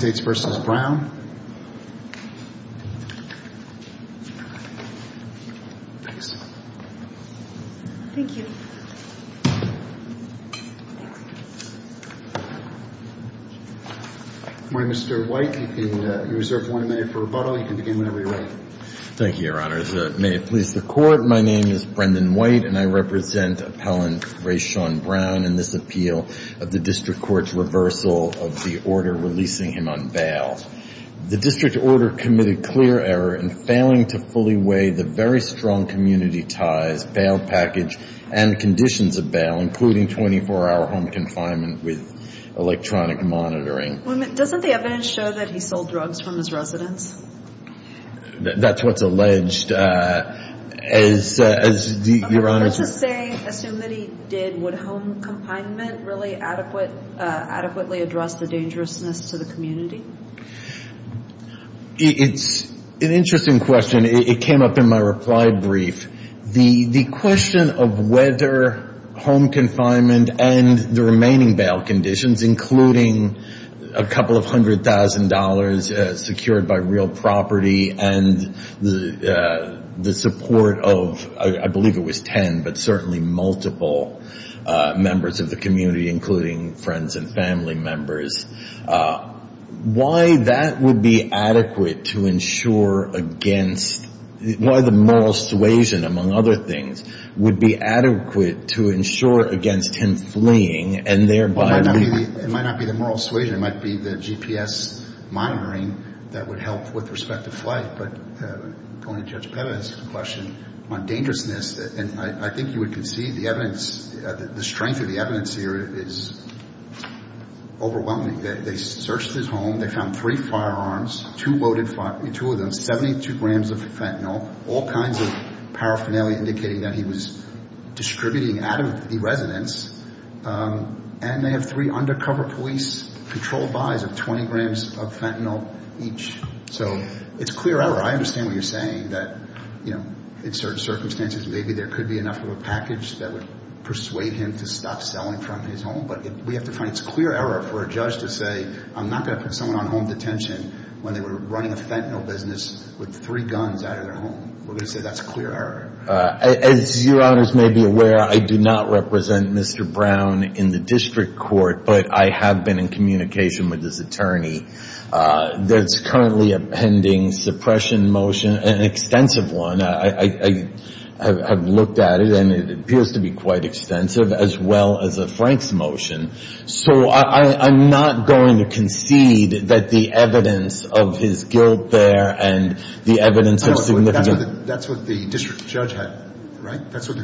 Good morning, Mr. White. You are reserved one minute for rebuttal. You can begin when you are ready. Thank you, Your Honor. May it please the Court, my name is Brendan White and I represent appellant Ray Sean Brown in this appeal of the District Court's reversal of the order releasing him out of jail. The District Order committed clear error in failing to fully weigh the very strong community ties, bail package, and conditions of bail, including 24-hour home confinement with electronic monitoring. Doesn't the evidence show that he sold drugs from his residence? That's what's alleged. I'm here to say, assume that he did, would home confinement really adequately address the dangerousness to the community? It's an interesting question. It came up in my reply brief. The question of whether home confinement and the remaining bail conditions, including a couple of hundred thousand dollars secured by real property and the support of, I believe it was ten, but certainly multiple members of the community, including friends and family members, why that would be adequate to ensure against, why the moral suasion, among other things, would be adequate to ensure against him fleeing and thereby... It might not be the moral suasion. It might be the GPS monitoring that would help with respect to flight. But going to Judge Pevez's question on dangerousness, and I think you would concede the evidence, the strength of the evidence here is overwhelming. They searched his home. They found three firearms, two loaded firearms, 72 grams of fentanyl, all kinds of paraphernalia indicating that he was distributing out of the residence. And they have three undercover police controlled buys of 20 grams of fentanyl each. So it's clear error. I understand what you're saying, that in certain circumstances, maybe there could be enough of a package that would persuade him to stop selling from his home. But we have to find it's clear error for a judge to say, I'm not going to put someone on home detention when they were running a fentanyl business with three guns out of their home. We're going to say that's clear error. As your honors may be aware, I do not represent Mr. Brown in the district court, but I have been in communication with his attorney. There's currently a pending suppression motion, an extensive one. I have looked at it, and it appears to be quite extensive, as well as a Franks motion. So I'm not going to concede that the evidence of his guilt there and the evidence of significant... That's what the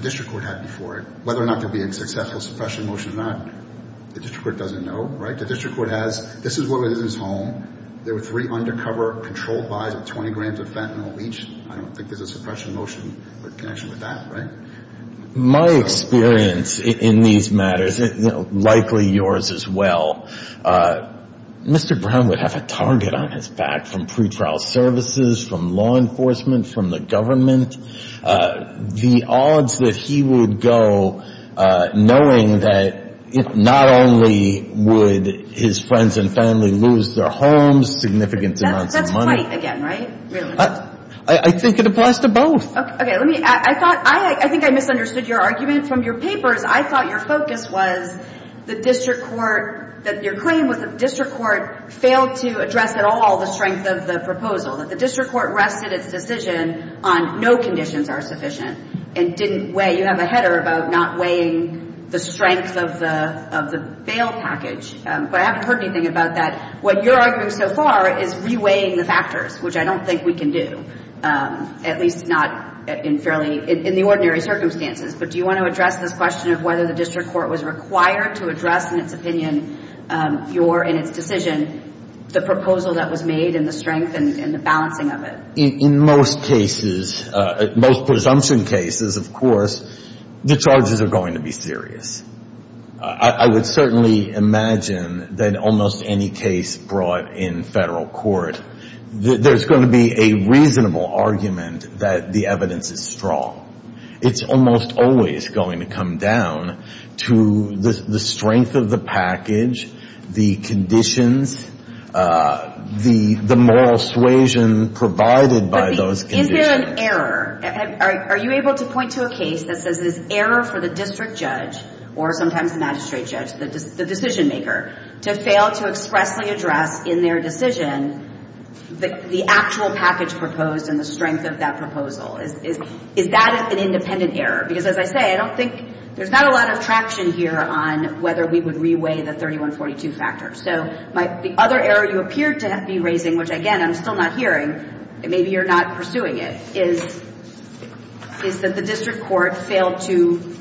district court had before it. Whether or not there'll be a successful suppression motion or not, the district court doesn't know. The district court has, this is what was in his home. There were three undercover controlled buys of 20 grams of fentanyl each. I don't think there's a suppression motion with connection with that. My experience in these matters, likely yours as well, Mr. Brown would have a target on his back from pretrial services, from law enforcement, from the government. The odds that he would go, knowing that not only would his friends and family lose their homes, significant amounts of money... That's white again, right? I think it applies to both. Okay, let me, I thought, I think I misunderstood your argument from your papers. I thought your focus was the district court, that your claim was the district court failed to address at all the strength of the proposal. That the district court rested its decision on no conditions are sufficient and didn't weigh, you have a header about not weighing the strength of the bail package. But I haven't heard anything about that. What you're arguing so far is re-weighing the factors, which I don't think we can do, at least not in fairly, in the ordinary circumstances. But do you want to address this question of whether the district court was required to address in its opinion, your, in its decision, the proposal that was made and the strength and the balancing of it? In most cases, most presumption cases, of course, the charges are going to be serious. I would certainly imagine that almost any case brought in federal court, there's going to be a reasonable argument that the evidence is strong. It's almost always going to come down to the strength of the package, the conditions, the moral suasion provided by those conditions. Is there an error? Are you able to point to a case that says there's error for the district judge, or sometimes the magistrate judge, the decision maker, to fail to expressly address in their decision the actual package proposed and the strength of that proposal? Is that an independent error? Because, as I say, I don't think there's not a lot of traction here on whether we would re-weigh the 3142 factors. So the other error you appear to be raising, which, again, I'm still not hearing, and maybe you're not pursuing it, is that the district court failed to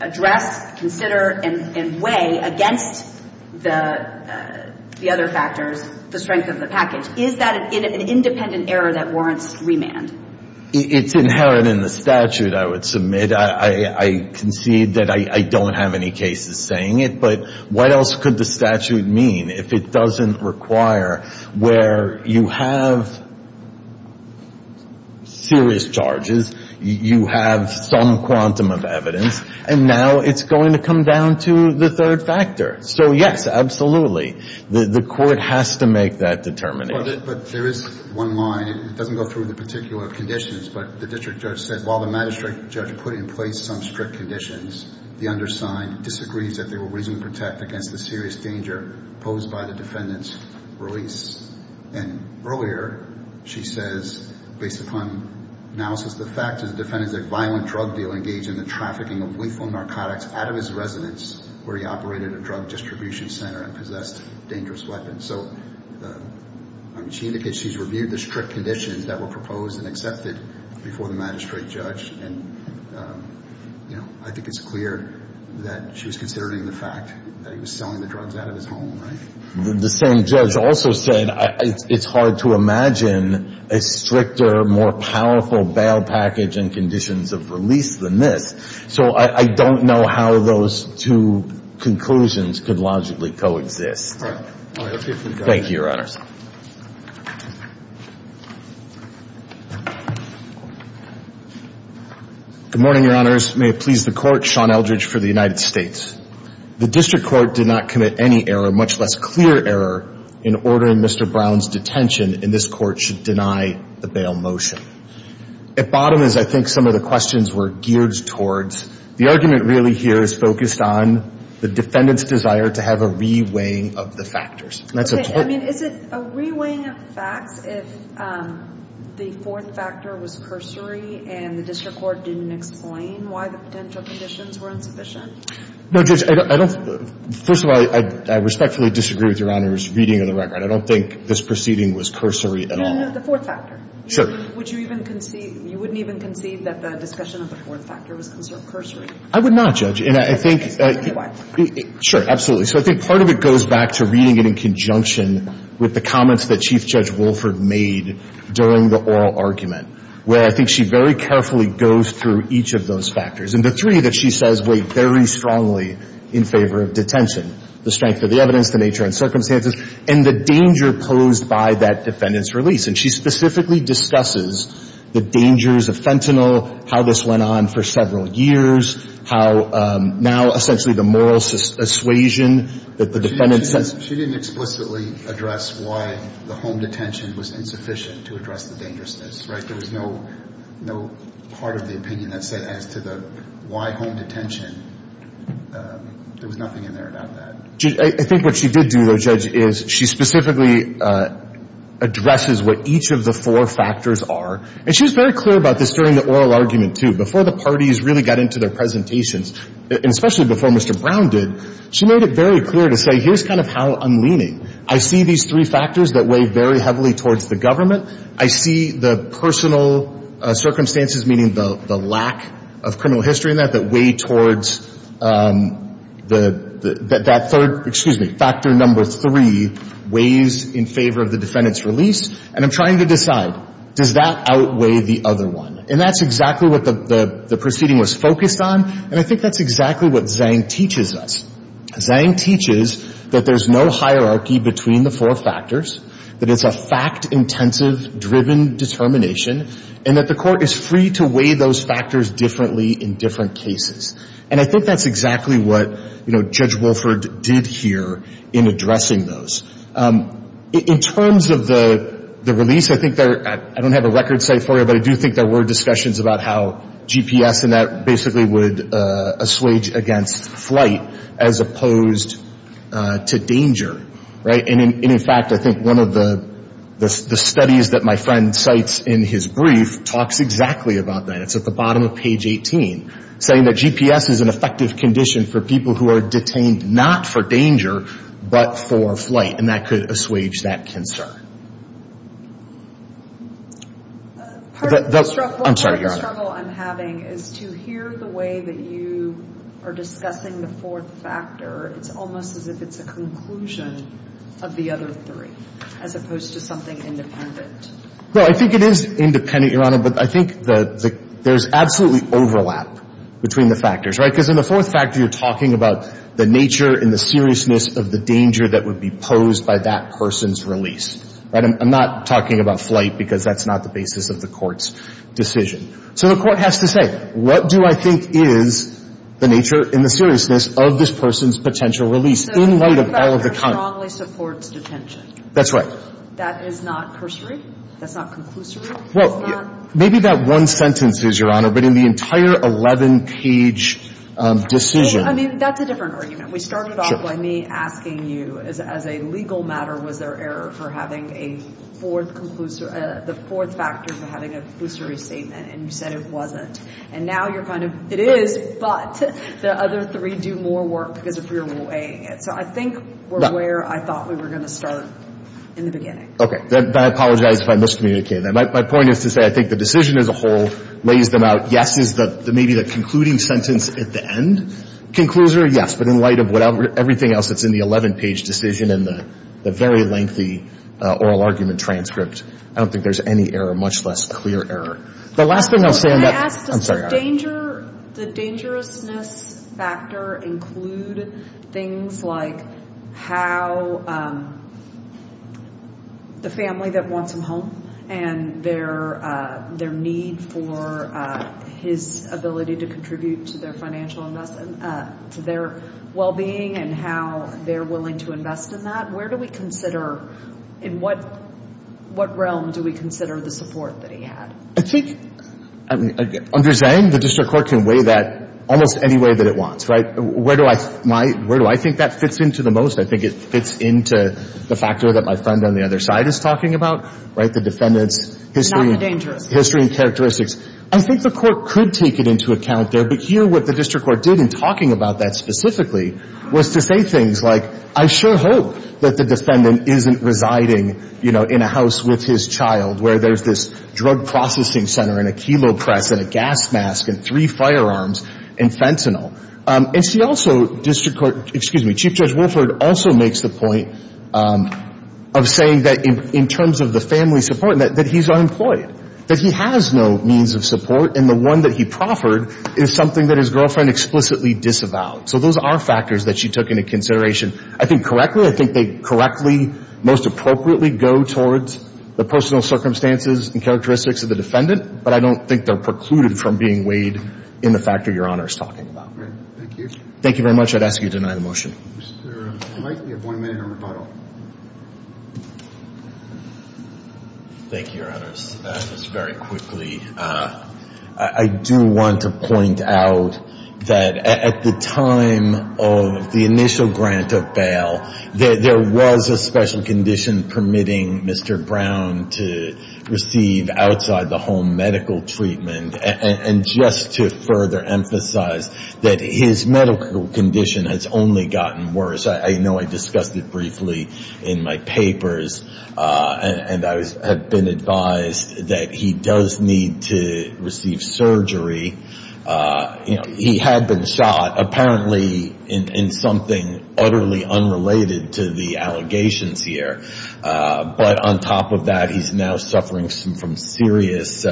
address, consider, and weigh against the other factors the strength of the package. Is that an independent error that warrants remand? It's inherent in the statute, I would submit. I concede that I don't have any cases saying it. But what else could the statute mean if it doesn't require where you have serious charges, you have some quantum of evidence, and now it's going to come down to the third factor? So, yes, absolutely. The Court has to make that determination. But there is one line. It doesn't go through the particular conditions, but the district judge said, while the magistrate judge put in place some strict conditions, the undersigned disagrees that they were reasonably protected against the serious danger posed by the defendant's release. And earlier, she says, based upon analysis, the fact is the defendant is a violent drug dealer engaged in the trafficking of lethal narcotics out of his residence where he operated a drug distribution center and possessed dangerous weapons. So, I mean, she indicates she's reviewed the strict conditions that were proposed and accepted before the magistrate judge. And, you know, I think it's clear that she was considering the fact that he was selling the drugs out of his home, right? The same judge also said it's hard to imagine a stricter, more powerful bail package and conditions of release than this. So I don't know how those two conclusions could logically coexist. All right. Thank you, Your Honors. Good morning, Your Honors. May it please the Court. Sean Eldridge for the United States. The district court did not commit any error, much less clear error, in ordering Mr. Brown's detention, and this Court should deny the bail motion. At bottom is, I think, some of the questions we're geared towards. The argument really here is focused on the defendant's desire to have a reweighing of the factors. I mean, is it a reweighing of the facts if the fourth factor was cursory and the district court didn't explain why the potential conditions were insufficient? No, Judge, I don't – first of all, I respectfully disagree with Your Honors' reading of the record. I don't think this proceeding was cursory at all. No, no, no. The fourth factor. Sure. Would you even concede – you wouldn't even concede that the discussion of the fourth factor was conserved cursory? I would not, Judge. And I think – Anyway. Sure, absolutely. So I think part of it goes back to reading it in conjunction with the comments that Chief Judge Wolford made during the oral argument, where I think she very carefully goes through each of those factors. And the three that she says weigh very strongly in favor of detention, the strength of the evidence, the nature and circumstances, and the danger posed by that defendant's release. And she specifically discusses the dangers of fentanyl, how this went on for several years, how now essentially the moral assuasion that the defendant's – She didn't – she didn't explicitly address why the home detention was insufficient to address the dangerousness, right? There was no – no part of the opinion that said as to the – why home detention – there was nothing in there about that. I think what she did do, though, Judge, is she specifically addresses what each of the four factors are. And she was very clear about this during the oral argument, too. Before the parties really got into their presentations, and especially before Mr. Brown did, she made it very clear to say, here's kind of how I'm leaning. I see these three factors that weigh very heavily towards the government. I see the personal circumstances, meaning the lack of criminal history in that, that third – excuse me – factor number three weighs in favor of the defendant's release. And I'm trying to decide, does that outweigh the other one? And that's exactly what the proceeding was focused on. And I think that's exactly what Zhang teaches us. Zhang teaches that there's no hierarchy between the four factors, that it's a fact-intensive, driven determination, and that the Court is free to weigh those factors differently in different cases. And I think that's exactly what, you know, Judge Wolford did here in addressing those. In terms of the release, I think there – I don't have a record site for it, but I do think there were discussions about how GPS and that basically would assuage against flight as opposed to danger, right? And in fact, I think one of the studies that my friend cites in his brief talks exactly about that. It's at the bottom of page 18, saying that GPS is an effective condition for people who are detained not for danger but for flight. And that could assuage that concern. I'm sorry, Your Honor. Part of the struggle I'm having is to hear the way that you are discussing the fourth factor. It's almost as if it's a conclusion of the other three as opposed to something independent. Well, I think it is independent, Your Honor, but I think that there's absolutely overlap between the factors, right? Because in the fourth factor, you're talking about the nature and the seriousness of the danger that would be posed by that person's release, right? I'm not talking about flight because that's not the basis of the Court's decision. So the Court has to say, what do I think is the nature and the seriousness of this person's potential release in light of all of the content? So the fourth factor strongly supports detention. That's right. So that is not cursory? That's not conclusory? Well, maybe that one sentence is, Your Honor, but in the entire 11-page decision. I mean, that's a different argument. We started off by me asking you, as a legal matter, was there error for having a fourth factor for having a conclusory statement, and you said it wasn't. And now you're kind of, it is, but the other three do more work because of your weighing it. So I think we're where I thought we were going to start in the beginning. Okay. I apologize if I miscommunicated. My point is to say I think the decision as a whole lays them out. Yes is maybe the concluding sentence at the end. Conclusory, yes. But in light of everything else that's in the 11-page decision and the very lengthy oral argument transcript, I don't think there's any error, much less clear error. The last thing I'll say on that — Justice, the dangerousness factor include things like how the family that wants him home and their need for his ability to contribute to their financial investment, to their well-being and how they're willing to invest in that. Where do we consider, in what realm do we consider the support that he had? I think, understanding the district court can weigh that almost any way that it wants, right? Where do I think that fits into the most? I think it fits into the factor that my friend on the other side is talking about, right, the defendant's history — Not the dangerousness. — history and characteristics. I think the court could take it into account there. But here what the district court did in talking about that specifically was to say things like, I sure hope that the defendant isn't residing, you know, in a house with his and a gas mask and three firearms and fentanyl. And see, also, district court — excuse me, Chief Judge Wilford also makes the point of saying that in terms of the family support, that he's unemployed, that he has no means of support, and the one that he proffered is something that his girlfriend explicitly disavowed. So those are factors that she took into consideration, I think, correctly. I think they correctly, most appropriately go towards the personal circumstances and characteristics of the defendant, but I don't think they're precluded from being weighed in the factor Your Honor is talking about. Thank you. Thank you very much. I'd ask you to deny the motion. Mr. Wright, you have one minute on rebuttal. Thank you, Your Honors. Just very quickly, I do want to point out that at the time of the initial grant of bail, there was a special condition permitting Mr. Brown to receive outside-the-home medical treatment. And just to further emphasize that his medical condition has only gotten worse. I know I discussed it briefly in my papers, and I have been advised that he does need to receive surgery. He had been shot, apparently in something utterly unrelated to the allegations here. But on top of that, he's now suffering from serious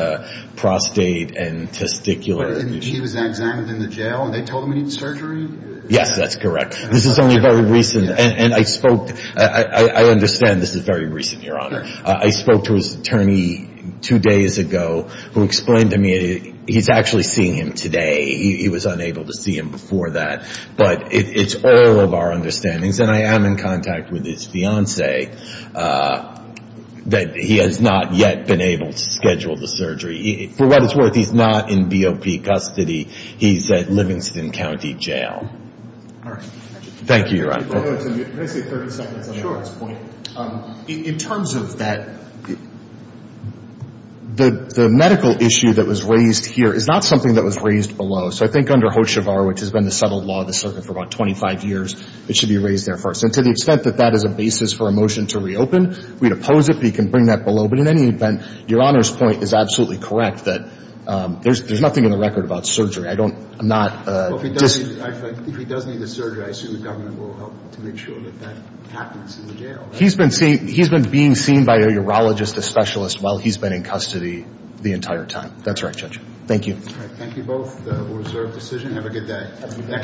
prostate and testicular issues. He was examined in the jail, and they told him he needed surgery? Yes, that's correct. This is only very recent, and I spoke, I understand this is very recent, Your Honor. I spoke to his attorney two days ago, who explained to me he's actually seeing him today. He was unable to see him before that. But it's all of our understandings, and I am in contact with his fiancee, that he has not yet been able to schedule the surgery. For what it's worth, he's not in BOP custody. He's at Livingston County Jail. Thank you, Your Honor. Let me say 30 seconds on Shor's point. In terms of that, the medical issue that was raised here is not something that was raised below. So I think under Hoshevar, which has been the settled law of the circuit for about 25 years, it should be raised there first. And to the extent that that is a basis for a motion to reopen, we'd oppose it, but you can bring that below. But in any event, Your Honor's point is absolutely correct that there's nothing in the record about surgery. I don't, I'm not. Well, if he does need a surgery, I assume the government will help to make sure that that happens in the jail. He's been being seen by a urologist, a specialist, while he's been in custody the entire time. That's right, Judge. Thank you. Thank you both. We'll reserve the decision. Have a good day.